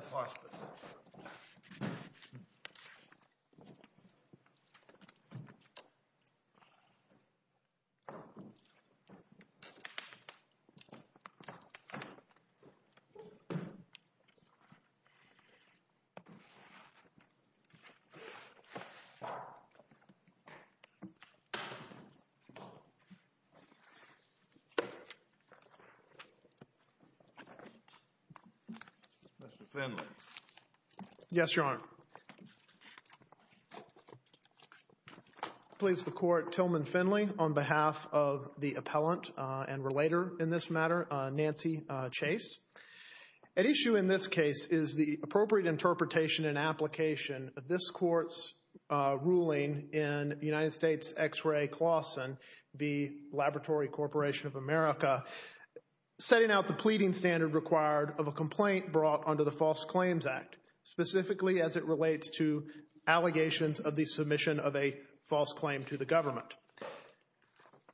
a Florida corporation, Good Shepherd Hospice, Inc., a Florida corporation, Good Shepherd Yes, Your Honor. I please the Court, Tillman Finley, on behalf of the appellant and relator in this matter, Nancy Chase. At issue in this case is the appropriate interpretation and application of this Court's ruling in United States X-ray Clawson v. Laboratory Corporation of America, setting out the pleading standard required of a complaint brought under the False Claims Act, specifically as it relates to allegations of the submission of a false claim to the government.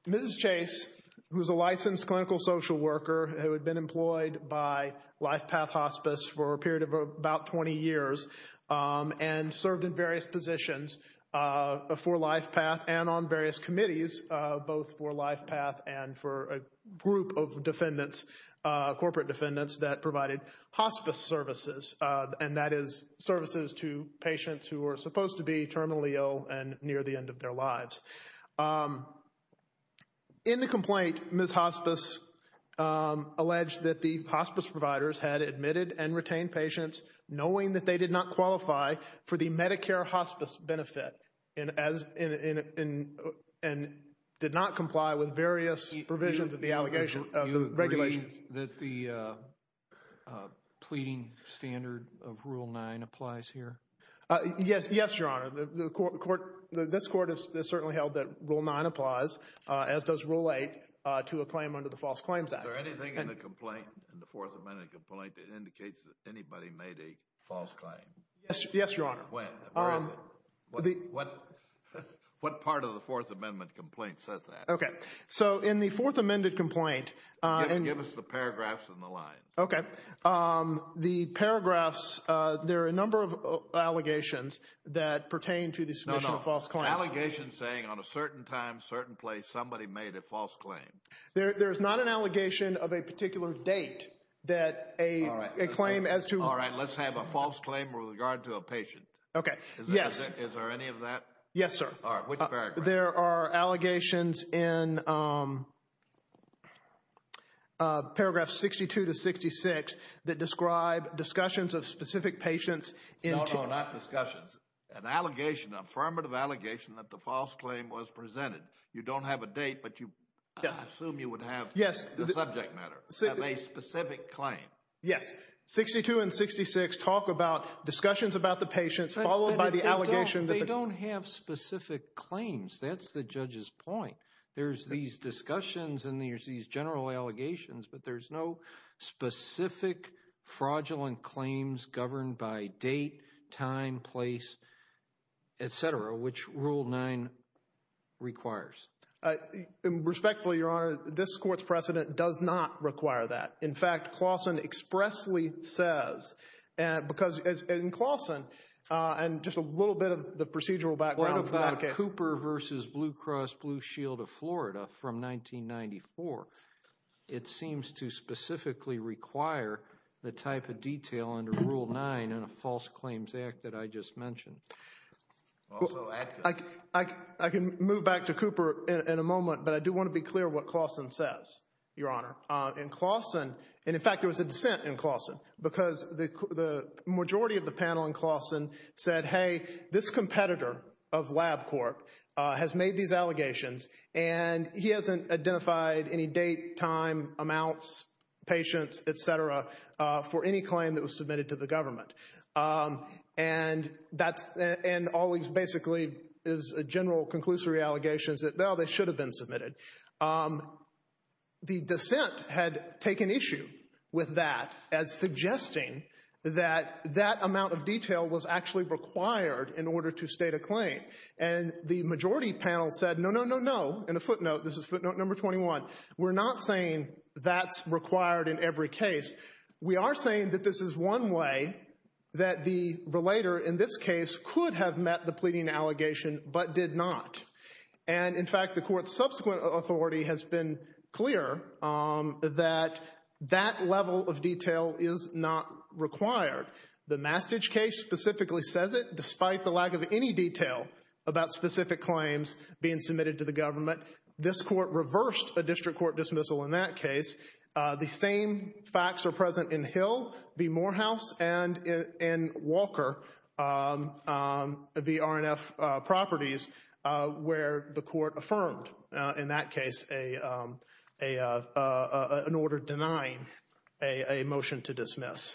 Mrs. Chase, who is a licensed clinical social worker who had been employed by Lifepath Hospice for a period of about 20 years and served in various positions for Lifepath and on various committees, both for Lifepath and for a group of defendants, corporate defendants, that provided hospice services, and that is services to patients who are supposed to be terminally ill and near the end of their lives. In the complaint, Ms. Hospice alleged that the hospice providers had admitted and retained patients knowing that they did not qualify for the Medicare hospice benefit and did not comply with various provisions of the regulations. Do you agree that the pleading standard of Rule 9 applies here? Yes, Your Honor. This Court has certainly held that Rule 9 applies, as does Rule 8, to a claim under the False Claims Act. Is there anything in the complaint, in the Fourth Amendment complaint, that indicates that anybody made a false claim? Yes, Your Honor. Where is it? What part of the Fourth Amendment complaint says that? Okay. So in the Fourth Amendment complaint... Give us the paragraphs and the line. Okay. The paragraphs, there are a number of allegations that pertain to the submission of false claims. No, no. Allegations saying on a certain time, certain place, somebody made a false claim. There is not an allegation of a particular date that a claim as to... All right. Let's have a false claim with regard to a patient. Okay. Yes. Is there any of that? Yes, sir. All right. Which paragraph? There are allegations in paragraphs 62 to 66 that describe discussions of specific patients in... No, no. Not discussions. An allegation, affirmative allegation that the false claim was presented. You don't have a date, but you... Yes. I assume you would have... Yes. ...the subject matter of a specific claim. Yes. 62 and 66 talk about discussions about the patients, followed by the allegation that... That's the judge's point. There's these discussions and there's these general allegations, but there's no specific fraudulent claims governed by date, time, place, etc., which Rule 9 requires. Respectfully, Your Honor, this court's precedent does not require that. In fact, Claussen expressly says, because in Claussen, and just a little bit of the procedural background... Yes. ...Cooper v. Blue Cross Blue Shield of Florida from 1994, it seems to specifically require the type of detail under Rule 9 in a false claims act that I just mentioned. Well, I can move back to Cooper in a moment, but I do want to be clear what Claussen says, Your Honor. In fact, there was a dissent in Claussen, because the majority of the panel in Claussen said, hey, this competitor of LabCorp has made these allegations and he hasn't identified any date, time, amounts, patients, etc., for any claim that was submitted to the government. And all these basically is a general conclusory allegations that, well, they should have been submitted. The dissent had taken issue with that as suggesting that that amount of detail was actually required in order to state a claim. And the majority panel said, no, no, no, no, and a footnote, this is footnote number 21, we're not saying that's required in every case. We are saying that this is one way that the relator in this case could have met the pleading allegation but did not. And, in fact, the court's subsequent authority has been clear that that level of detail is not required. The Mastich case specifically says it, despite the lack of any detail about specific claims being submitted to the government. This court reversed a district court dismissal in that case. The same facts are present in Hill v. Morehouse and in Walker v. R&F properties where the court affirmed, in that case, an order denying a motion to dismiss.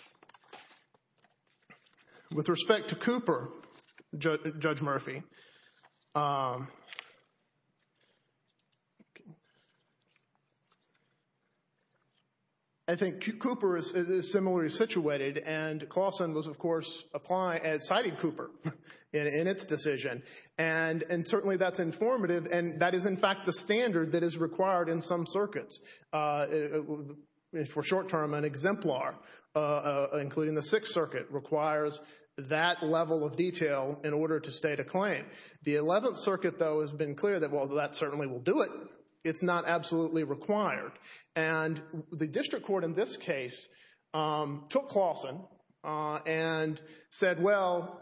With respect to Cooper, Judge Murphy, I think Cooper is similarly situated and Clawson was, of course, citing Cooper in its decision. And certainly that's informative and that is, in fact, the standard that is required in some circuits. For short term, an exemplar, including the Sixth Circuit, requires that level of detail in order to state a claim. The Eleventh Circuit, though, has been clear that, well, that certainly will do it. It's not absolutely required. And the district court in this case took Clawson and said, well,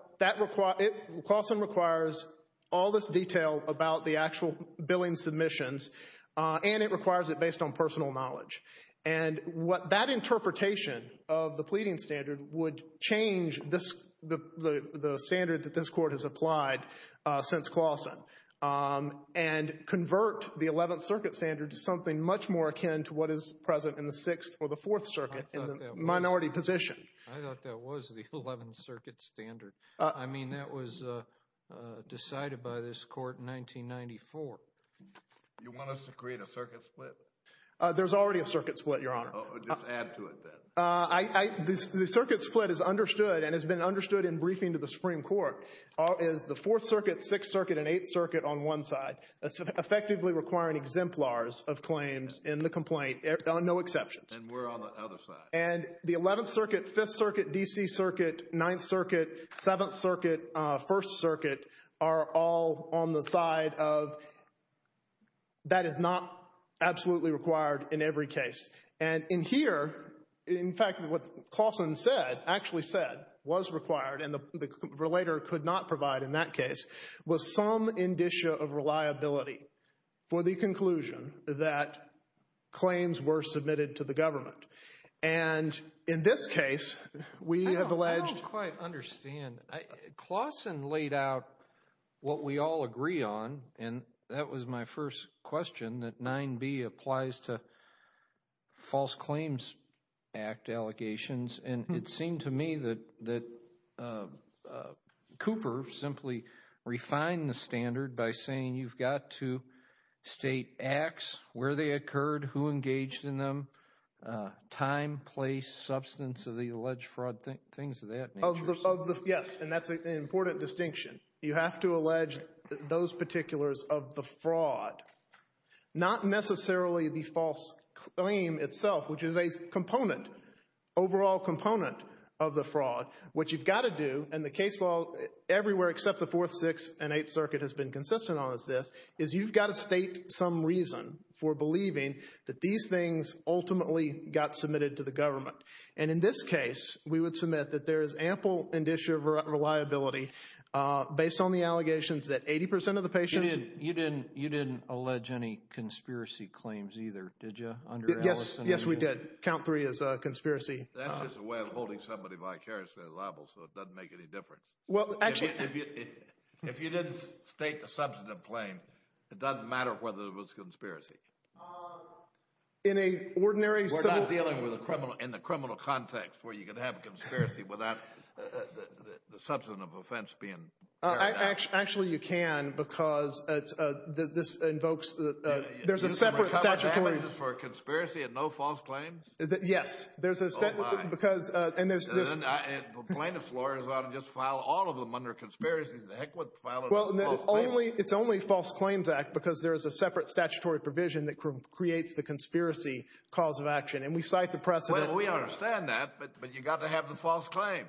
Clawson requires all this detail about the actual billing submissions and it requires it based on personal knowledge. And that interpretation of the pleading standard would change the standard that this court has applied since Clawson and convert the Eleventh Circuit standard to something much more akin to what is present in the Sixth or the Fourth Circuit in the minority position. I thought that was the Eleventh Circuit standard. I mean that was decided by this court in 1994. You want us to create a circuit split? There's already a circuit split, Your Honor. Just add to it then. The circuit split is understood and has been understood in briefing to the Supreme Court, is the Fourth Circuit, Sixth Circuit, and Eighth Circuit on one side. That's effectively requiring exemplars of claims in the complaint, no exceptions. And we're on the other side. And the Eleventh Circuit, Fifth Circuit, D.C. Circuit, Ninth Circuit, Seventh Circuit, First Circuit are all on the side of that is not absolutely required in every case. And in here, in fact, what Clawson said, actually said, was required and the relator could not provide in that case, was some indicia of reliability for the conclusion that claims were submitted to the government. And in this case, we have alleged... I don't quite understand. Clawson laid out what we all agree on, and that was my first question, that 9b applies to False Claims Act allegations. And it seemed to me that Cooper simply refined the standard by saying you've got to state acts, where they occurred, who engaged in them, time, place, substance of the alleged fraud, things of that nature. Yes, and that's an important distinction. You have to allege those particulars of the fraud. Not necessarily the false claim itself, which is a component, overall component of the fraud. What you've got to do, and the case law everywhere except the Fourth, Sixth, and Eighth Circuit has been consistent on this, is you've got to state some reason for believing that these things ultimately got submitted to the government. And in this case, we would submit that there is ample indicia of reliability based on the allegations that 80% of the patients... You didn't allege any conspiracy claims either, did you? Yes, yes we did. Count 3 is a conspiracy. That's just a way of holding somebody vicariously liable, so it doesn't make any difference. Well, actually... If you didn't state the substantive claim, it doesn't matter whether it was a conspiracy. In a ordinary... We're not dealing with a criminal, in a criminal context where you can have a conspiracy without the substantive offense being carried out. Actually you can, because this invokes, there's a separate statutory... Is there a cover-up for a conspiracy and no false claims? Yes, there's a... Oh my. Plaintiff's lawyers ought to just file all of them under conspiracies. The heck would they file them under false claims? It's only False Claims Act because there is a separate statutory provision that creates the conspiracy cause of action. And we cite the precedent here. We understand that, but you've got to have the false claims.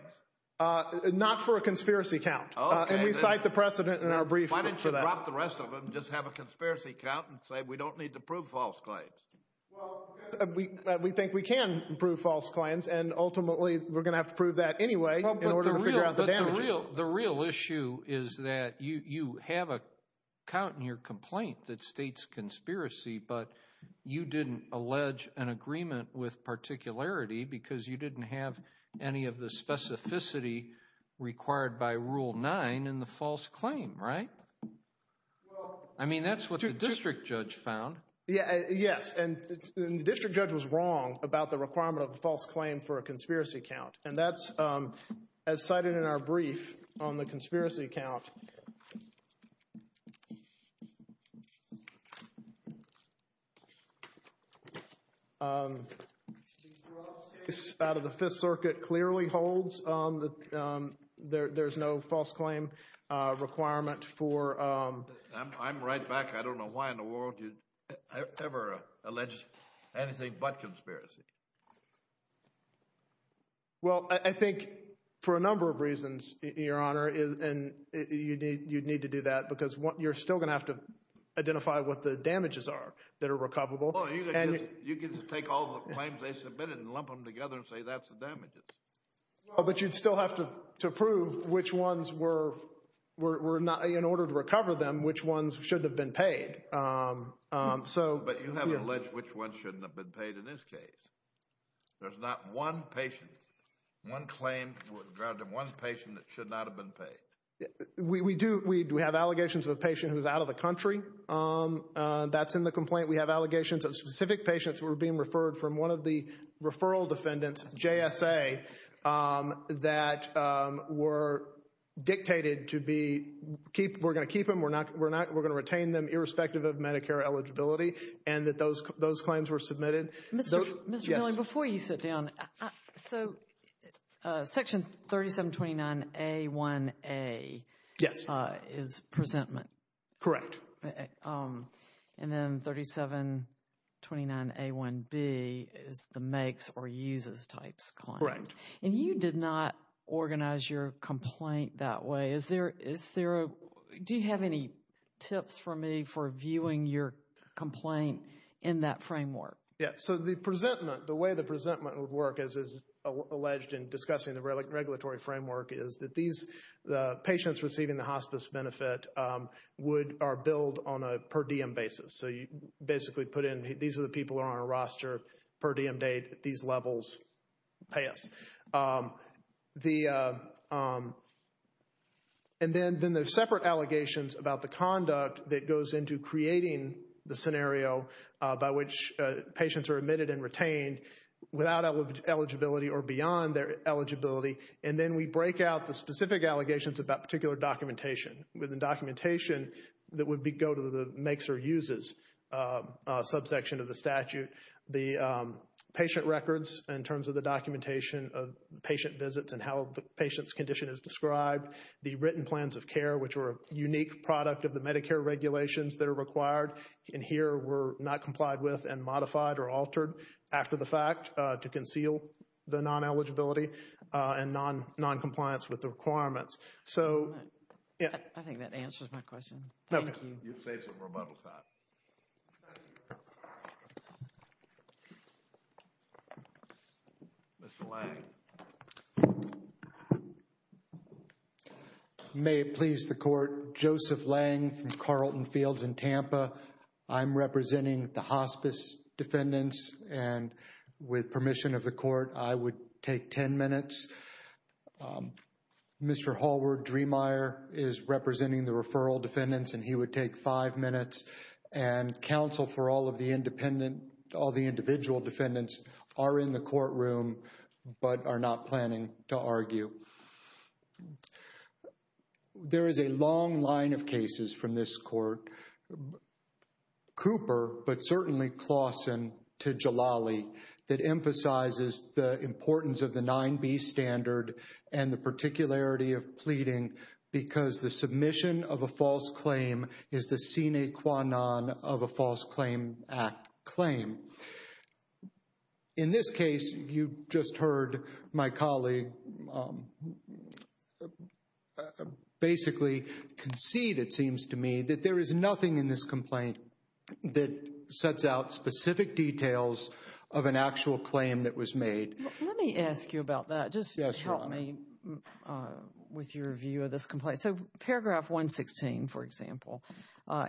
Not for a conspiracy count. And we cite the precedent in our brief for that. Why don't you drop the rest of them and just have a conspiracy count and say we don't need to prove false claims? Well, we think we can prove false claims and ultimately we're going to have to prove that anyway in order to figure out the damages. But the real issue is that you have a count in your complaint that states conspiracy, but you didn't allege an agreement with particularity because you didn't have any of the specificity required by Rule 9 in the false claim, right? Well... I mean that's what the district judge found. And the district judge was wrong about the requirement of a false claim for a conspiracy count. And that's as cited in our brief on the conspiracy count. The gross case out of the Fifth Circuit clearly holds that there's no false claim requirement for... I'm right back. I don't know why in the world you'd ever allege anything but conspiracy. Well, I think for a number of reasons, Your Honor, and you need to do that because you're still going to have to identify what the damages are that are recoverable. You can just take all the claims they submitted and lump them together and say that's the damages. But you'd still have to prove which ones were, in order to recover them, which ones should have been paid. But you haven't alleged which ones shouldn't have been paid in this case. There's not one patient, one claim, one patient that should not have been paid. We do, we have allegations of a patient who's out of the country. That's in the complaint. We have allegations of specific patients who were being referred from one of the referral defendants, JSA, that were dictated to be... We're going to keep them, we're not going to retain them, irrespective of Medicare eligibility, and that those claims were submitted. Mr. Miller, before you sit down, so Section 3729A1A is presentment? Correct. And then 3729A1B is the makes or uses types claims. And you did not organize your complaint that way. Do you have any tips for me for viewing your complaint in that framework? Yeah, so the presentment, the way the presentment would work, as is alleged in discussing the regulatory framework, is that these patients receiving the hospice benefit would, are billed on a per diem basis. So you basically put in, these are the people who are on a roster, per diem date, these levels pay us. And then there's separate allegations about the conduct that goes into creating the scenario by which patients are admitted and retained without eligibility or beyond their eligibility. And then we break out the specific allegations about particular documentation. The documentation that would go to the makes or uses subsection of the statute. The patient records in terms of the documentation of patient visits and how the patient's condition is described. The written plans of care, which were a unique product of the Medicare regulations that are required. And here were not complied with and modified or altered after the fact to conceal the non-eligibility and non-compliance with the requirements. So, yeah. I think that answers my question. Thank you. You saved some rebuttal time. Mr. Lang. May it please the court, Joseph Lang from Carlton Fields in Tampa. I'm representing the hospice defendants and with permission of the court, I would take 10 minutes. Mr. Hallward-Dremeier is representing the referral defendants and he would take five minutes. And counsel for all of the independent, all the individual defendants are in the courtroom but are not planning to argue. There is a long line of cases from this court. Cooper, but certainly Claussen to Jalali that emphasizes the importance of the 9B standard and the particularity of pleading because the submission of a false claim is the sine qua non of a false claim act claim. In this case, you just heard my colleague basically concede, it seems to me, that there is nothing in this complaint that sets out specific details of an actual claim that was made. Let me ask you about that. Just help me with your view of this complaint. So paragraph 116, for example,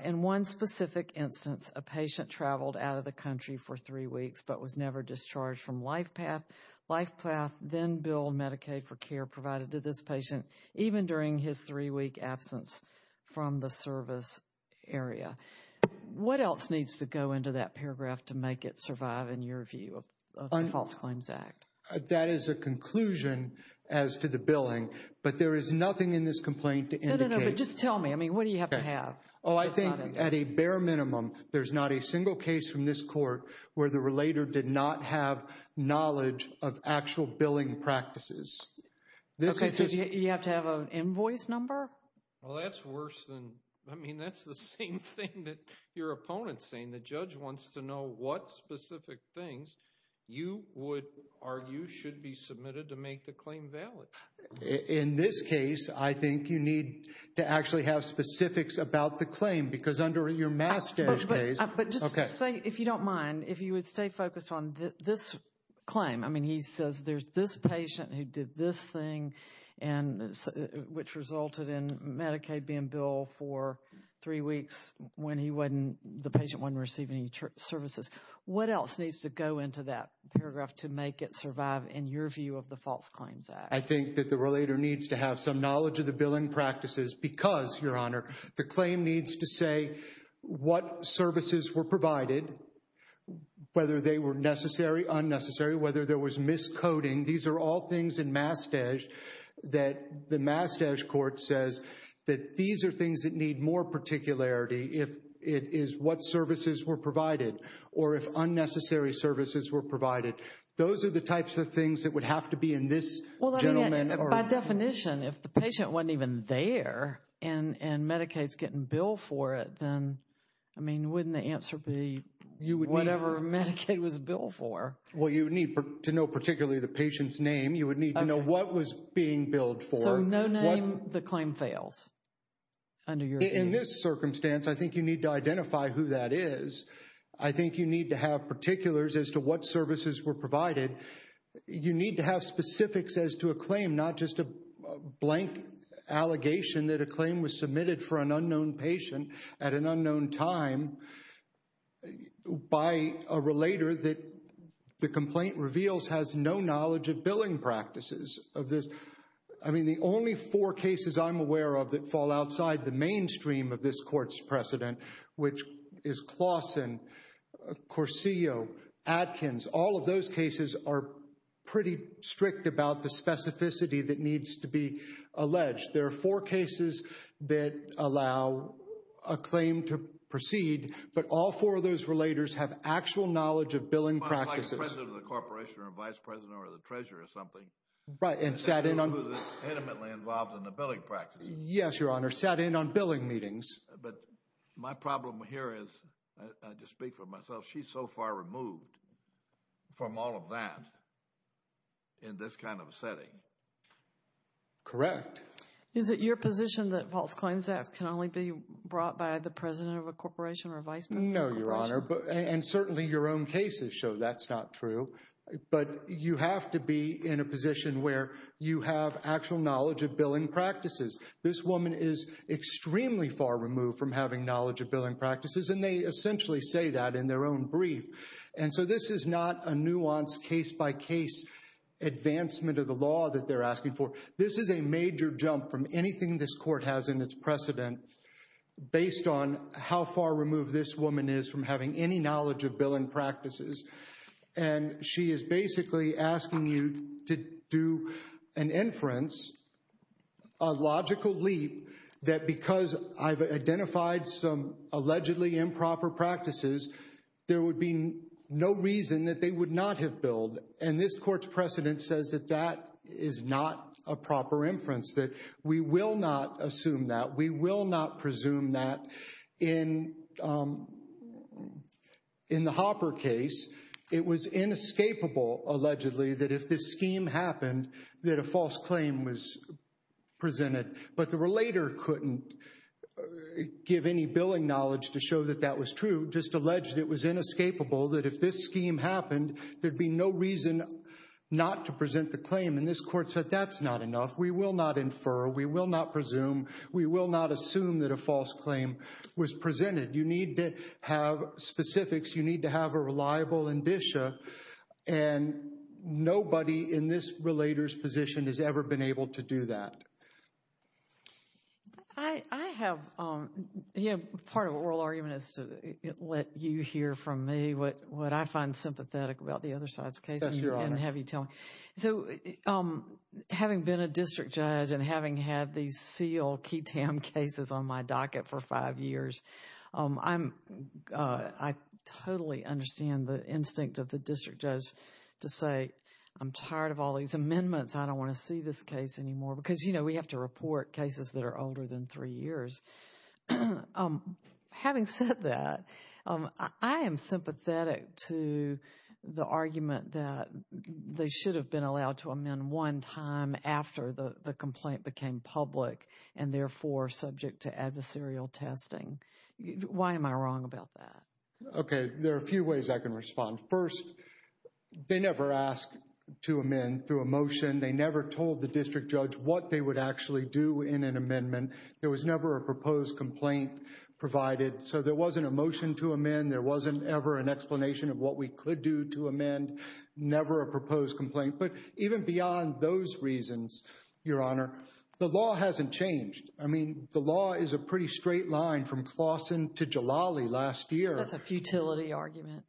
in one specific instance, a patient traveled out of the country for three weeks but was never discharged from LifePath. LifePath then billed Medicaid for care provided to this patient even during his three-week absence from the service area. What else needs to go into that paragraph to make it survive in your view of the False Claims Act? That is a conclusion as to the billing, but there is nothing in this complaint to indicate. No, no, no, but just tell me. I mean, what do you have to have? Oh, I think at a bare minimum, there's not a single case from this court where the relator did not have knowledge of actual billing practices. Okay, so you have to have an invoice number? Well, that's worse than, I mean, that's the same thing that your opponent's saying. When the judge wants to know what specific things you would argue should be submitted to make the claim valid. In this case, I think you need to actually have specifics about the claim because under your mass stash case... But just say, if you don't mind, if you would stay focused on this claim. I mean, he says there's this patient who did this thing, which resulted in Medicaid being billed for three weeks when the patient wasn't receiving any services. What else needs to go into that paragraph to make it survive in your view of the False Claims Act? I think that the relator needs to have some knowledge of the billing practices because, Your Honor, the claim needs to say what services were provided, whether they were necessary, unnecessary, whether there was miscoding. These are all things in Mass Stash that the Mass Stash Court says that these are things that need more particularity. If it is what services were provided or if unnecessary services were provided. Those are the types of things that would have to be in this gentleman... If the patient wasn't even there and Medicaid's getting billed for it, then, I mean, wouldn't the answer be whatever Medicaid was billed for? Well, you would need to know particularly the patient's name. You would need to know what was being billed for. So, no name, the claim fails? In this circumstance, I think you need to identify who that is. I think you need to have particulars as to what services were provided. You need to have specifics as to a claim, not just a blank allegation that a claim was submitted for an unknown patient at an unknown time by a relator that the complaint reveals has no knowledge of billing practices of this. I mean, the only four cases I'm aware of that fall outside the mainstream of this court's precedent, which is Claussen, Corcio, Adkins, all of those cases are pretty strict about the specificity that needs to be alleged. There are four cases that allow a claim to proceed, but all four of those relators have actual knowledge of billing practices. Like the president of the corporation or vice president or the treasurer or something. Right, and sat in on... Who's intimately involved in the billing practices. Yes, Your Honor, sat in on billing meetings. But my problem here is, I just speak for myself, she's so far removed from all of that in this kind of setting. Correct. Is it your position that false claims can only be brought by the president of a corporation or vice president of a corporation? No, Your Honor, and certainly your own cases show that's not true. But you have to be in a position where you have actual knowledge of billing practices. This woman is extremely far removed from having knowledge of billing practices, and they essentially say that in their own brief. And so this is not a nuanced case-by-case advancement of the law that they're asking for. This is a major jump from anything this court has in its precedent based on how far removed this woman is from having any knowledge of billing practices. And she is basically asking you to do an inference, a logical leap, that because I've identified some allegedly improper practices, there would be no reason that they would not have billed. And this court's precedent says that that is not a proper inference, that we will not assume that. We will not presume that. In the Hopper case, it was inescapable, allegedly, that if this scheme happened, that a false claim was presented. But the relator couldn't give any billing knowledge to show that that was true, just alleged it was inescapable that if this scheme happened, there'd be no reason not to present the claim. And this court said that's not enough. We will not infer. We will not presume. We will not assume that a false claim was presented. You need to have specifics. You need to have a reliable indicia. And nobody in this relator's position has ever been able to do that. I have, you know, part of an oral argument is to let you hear from me what I find sympathetic about the other side's case and have you tell me. So, having been a district judge and having had these seal, key tam cases on my docket for five years, I totally understand the instinct of the district judge to say, I'm tired of all these amendments. I don't want to see this case anymore because, you know, we have to report cases that are older than three years. Having said that, I am sympathetic to the argument that they should have been allowed to amend one time after the complaint became public and therefore subject to adversarial testing. Why am I wrong about that? OK, there are a few ways I can respond. First, they never asked to amend through a motion. They never told the district judge what they would actually do in an amendment. There was never a proposed complaint provided. So, there wasn't a motion to amend. There wasn't ever an explanation of what we could do to amend. Never a proposed complaint. But even beyond those reasons, Your Honor, the law hasn't changed. I mean, the law is a pretty straight line from Claussen to Jalali last year. That's a futility argument.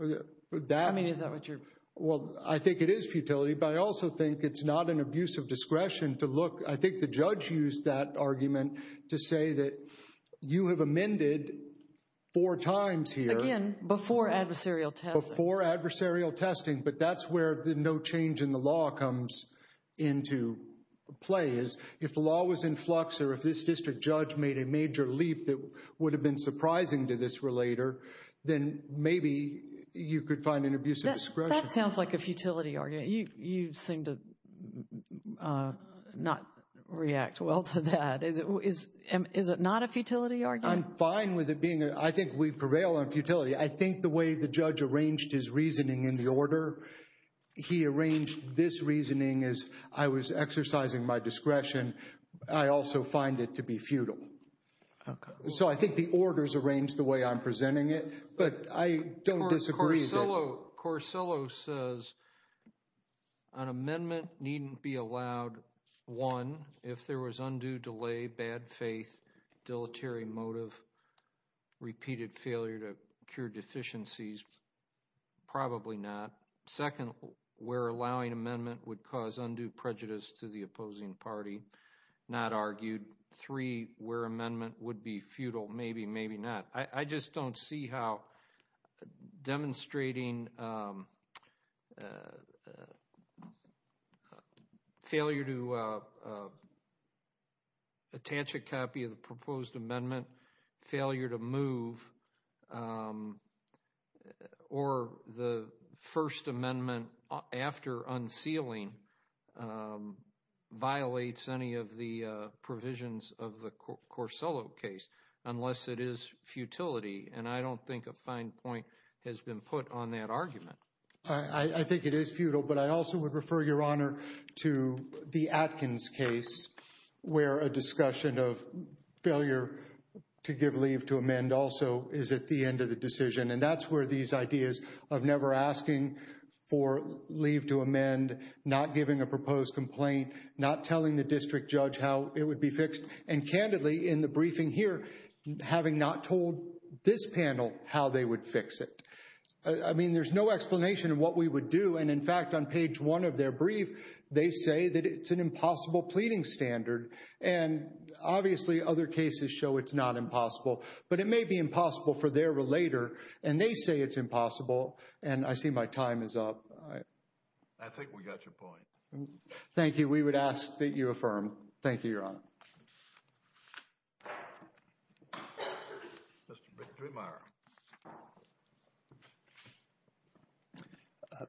I mean, is that what you're... Well, I think it is futility, but I also think it's not an abuse of discretion to look. I think the judge used that argument to say that you have amended four times here. Again, before adversarial testing. Before adversarial testing, but that's where the no change in the law comes into play. If the law was in flux or if this district judge made a major leap that would have been surprising to this relator, then maybe you could find an abuse of discretion. That sounds like a futility argument. You seem to not react well to that. Is it not a futility argument? I'm fine with it being a... I think we prevail on futility. I think the way the judge arranged his reasoning in the order. He arranged this reasoning as I was exercising my discretion. I also find it to be futile. So, I think the orders arranged the way I'm presenting it, but I don't disagree. Corsillo says an amendment needn't be allowed, one, if there was undue delay, bad faith, dilatory motive, repeated failure to cure deficiencies. Probably not. Second, where allowing amendment would cause undue prejudice to the opposing party. Not argued. Three, where amendment would be futile. Maybe, maybe not. I just don't see how demonstrating failure to attach a copy of the proposed amendment, failure to move, or the first amendment after unsealing violates any of the provisions of the Corsillo case. Unless it is futility, and I don't think a fine point has been put on that argument. I think it is futile, but I also would refer your honor to the Atkins case where a discussion of failure to give leave to amend also is at the end of the decision. And that's where these ideas of never asking for leave to amend, not giving a proposed complaint, not telling the district judge how it would be fixed. And candidly, in the briefing here, having not told this panel how they would fix it. I mean, there's no explanation of what we would do. And in fact, on page one of their brief, they say that it's an impossible pleading standard. And obviously other cases show it's not impossible, but it may be impossible for their relator. And they say it's impossible. And I see my time is up. I think we got your point. Thank you. We would ask that you affirm. Thank you, your honor.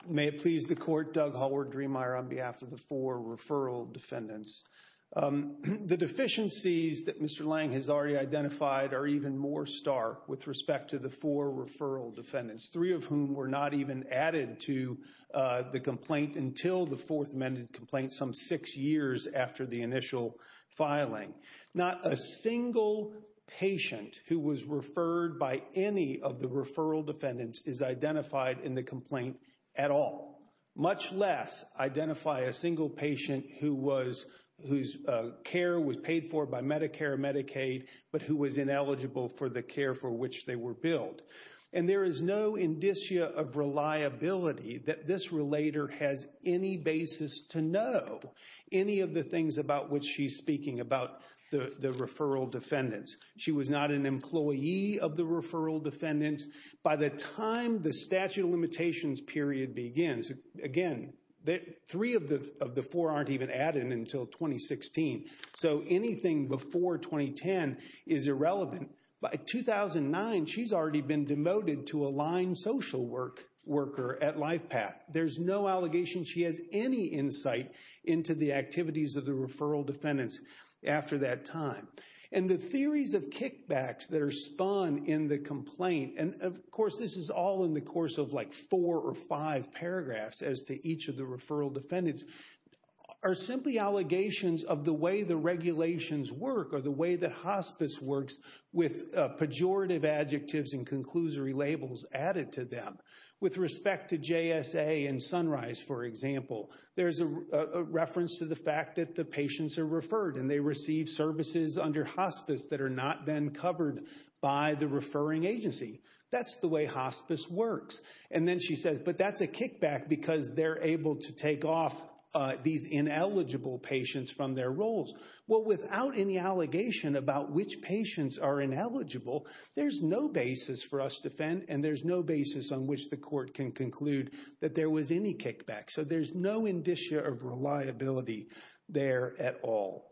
May it please the court, Doug Hallward-Dremeier on behalf of the four referral defendants. The deficiencies that Mr. Lange has already identified are even more stark with respect to the four referral defendants. Three of whom were not even added to the complaint until the fourth amended complaint some six years after the initial filing. Not a single patient who was referred by any of the referral defendants is identified in the complaint at all. Much less identify a single patient whose care was paid for by Medicare and Medicaid, but who was ineligible for the care for which they were billed. And there is no indicia of reliability that this relator has any basis to know any of the things about which she's speaking about the referral defendants. She was not an employee of the referral defendants by the time the statute of limitations period begins. Again, three of the four aren't even added until 2016. So anything before 2010 is irrelevant. By 2009, she's already been demoted to a line social worker at LifePath. There's no allegation she has any insight into the activities of the referral defendants after that time. And the theories of kickbacks that are spun in the complaint, and of course this is all in the course of like four or five paragraphs as to each of the referral defendants, are simply allegations of the way the regulations work or the way that hospice works with pejorative adjectives and conclusory labels added to them. With respect to JSA and Sunrise, for example, there's a reference to the fact that the patients are referred and they receive services under hospice that are not then covered by the referring agency. That's the way hospice works. And then she says, but that's a kickback because they're able to take off these ineligible patients from their roles. Well, without any allegation about which patients are ineligible, there's no basis for us to defend and there's no basis on which the court can conclude that there was any kickback. So there's no indicia of reliability there at all.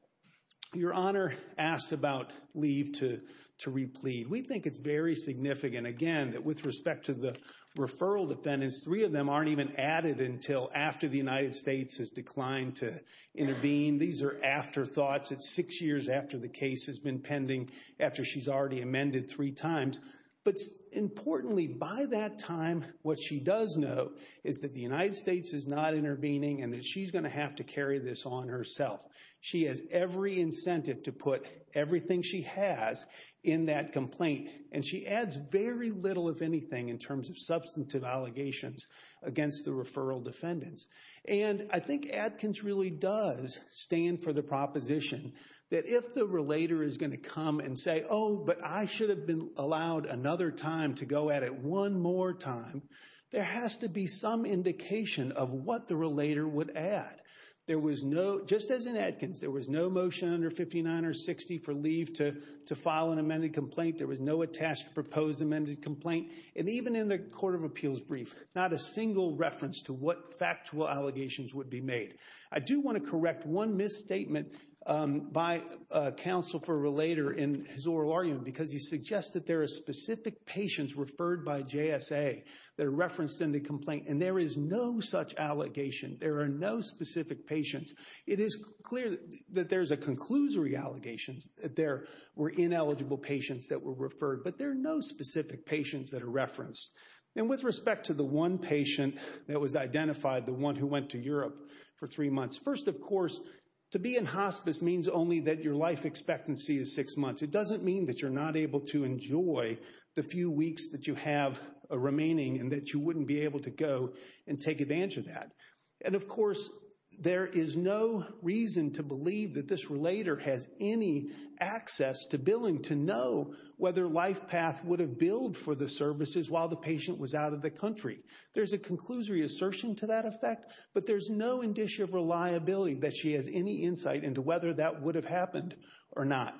Your Honor asked about leave to replead. We think it's very significant, again, that with respect to the referral defendants, three of them aren't even added until after the United States has declined to intervene. These are afterthoughts. It's six years after the case has been pending, after she's already amended three times. But importantly, by that time, what she does know is that the United States is not intervening and that she's going to have to carry this on herself. She has every incentive to put everything she has in that complaint. And she adds very little, if anything, in terms of substantive allegations against the referral defendants. And I think Adkins really does stand for the proposition that if the relator is going to come and say, oh, but I should have been allowed another time to go at it one more time. There has to be some indication of what the relator would add. There was no, just as in Adkins, there was no motion under 59 or 60 for leave to file an amended complaint. There was no attached proposed amended complaint. And even in the Court of Appeals brief, not a single reference to what factual allegations would be made. I do want to correct one misstatement by counsel for a relator in his oral argument, because he suggests that there are specific patients referred by JSA that are referenced in the complaint. And there is no such allegation. There are no specific patients. It is clear that there's a conclusory allegations that there were ineligible patients that were referred. But there are no specific patients that are referenced. And with respect to the one patient that was identified, the one who went to Europe for three months. First, of course, to be in hospice means only that your life expectancy is six months. It doesn't mean that you're not able to enjoy the few weeks that you have remaining and that you wouldn't be able to go and take advantage of that. And of course, there is no reason to believe that this relator has any access to billing to know whether LifePath would have billed for the services while the patient was out of the country. There's a conclusory assertion to that effect. But there's no indicia of reliability that she has any insight into whether that would have happened or not.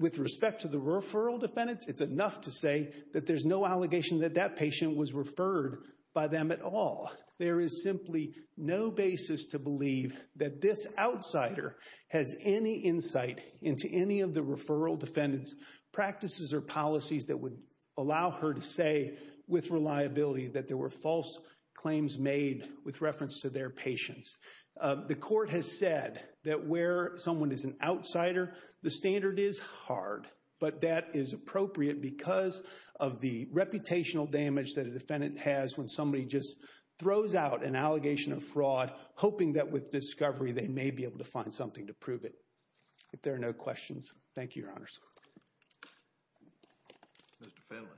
With respect to the referral defendants, it's enough to say that there's no allegation that that patient was referred by them at all. There is simply no basis to believe that this outsider has any insight into any of the referral defendants practices or policies that would allow her to say with reliability that there were false claims made with reference to their patients. The court has said that where someone is an outsider, the standard is hard. But that is appropriate because of the reputational damage that a defendant has when somebody just throws out an allegation of fraud, hoping that with discovery, they may be able to find something to prove it. If there are no questions, thank you, Your Honors. Mr. Finley.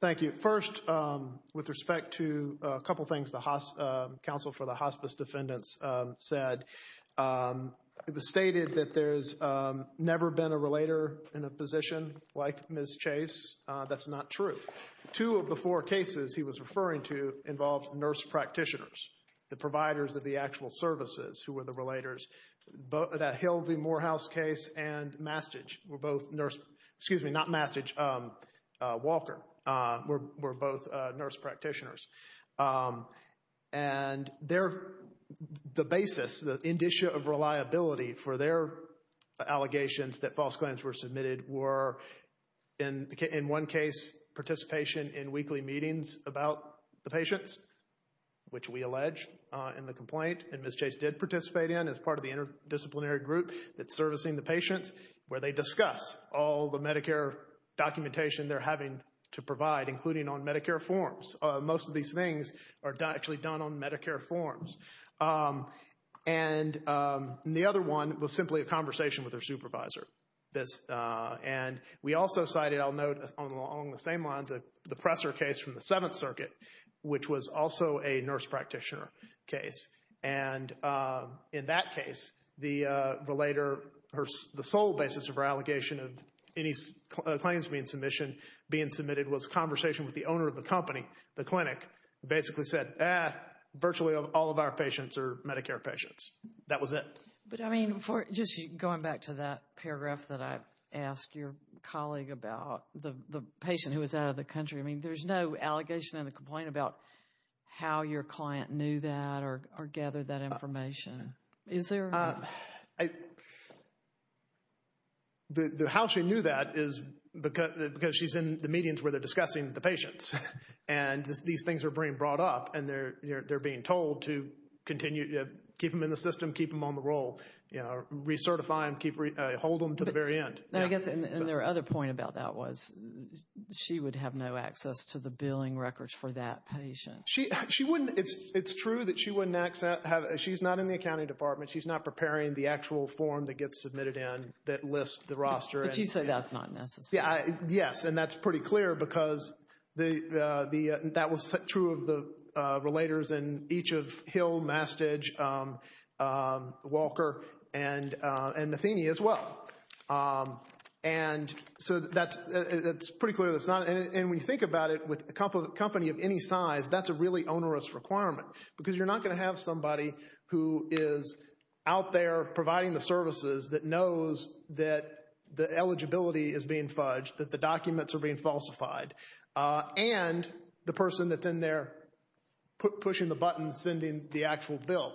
Thank you. First, with respect to a couple things the Council for the Hospice Defendants said, it was stated that there's never been a relator in a position like Ms. Chase. That's not true. Two of the four cases he was referring to involved nurse practitioners, the providers of the actual services who were the relators. The Hill v. Morehouse case and Mastage were both nurse, excuse me, not Mastage, Walker, were both nurse practitioners. And the basis, the indicia of reliability for their allegations that false claims were submitted were, in one case, participation in weekly meetings about the patients, which we allege in the complaint. And Ms. Chase did participate in as part of the interdisciplinary group that's servicing the patients where they discuss all the Medicare documentation they're having to provide, including on Medicare forms. Most of these things are actually done on Medicare forms. And the other one was simply a conversation with their supervisor. And we also cited, I'll note along the same lines, the Presser case from the Seventh Circuit, which was also a nurse practitioner case. And in that case, the relator, the sole basis of her allegation of any claims being submitted was a conversation with the owner of the company, the clinic, who basically said, ah, virtually all of our patients are Medicare patients. That was it. But, I mean, just going back to that paragraph that I asked your colleague about the patient who was out of the country. I mean, there's no allegation in the complaint about how your client knew that or gathered that information. How she knew that is because she's in the meetings where they're discussing the patients. And these things are being brought up and they're being told to continue to keep them in the system, keep them on the roll, recertify them, hold them to the very end. And I guess their other point about that was she would have no access to the billing records for that patient. She wouldn't. It's true that she wouldn't have access. She's not in the accounting department. She's not preparing the actual form that gets submitted in that lists the roster. But you say that's not necessary. Yes, and that's pretty clear because that was true of the relators in each of Hill, Mastidge, Walker, and Matheny as well. And so that's pretty clear. And when you think about it, with a company of any size, that's a really onerous requirement. Because you're not going to have somebody who is out there providing the services that knows that the eligibility is being fudged, that the documents are being falsified. And the person that's in there pushing the button, sending the actual bill.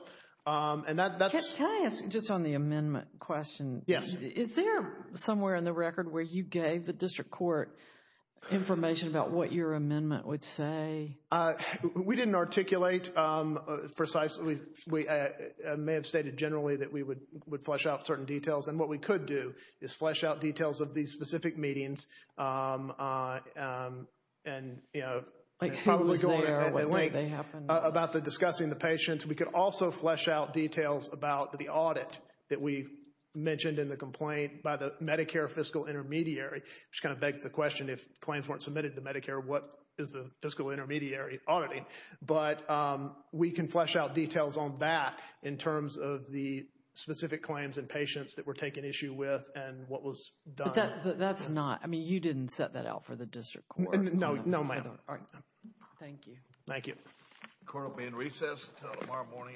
Can I ask just on the amendment question? Yes. Is there somewhere in the record where you gave the district court information about what your amendment would say? We didn't articulate precisely. I may have stated generally that we would flesh out certain details. And what we could do is flesh out details of these specific meetings. Like who was there, when did they happen? About discussing the patients. We could also flesh out details about the audit that we mentioned in the complaint by the Medicare fiscal intermediary. Which kind of begs the question, if claims weren't submitted to Medicare, what is the fiscal intermediary auditing? But we can flesh out details on that in terms of the specific claims and patients that were taken issue with and what was done. But that's not, I mean, you didn't set that out for the district court. No, ma'am. Thank you. Thank you. The court will be in recess until tomorrow morning at 9.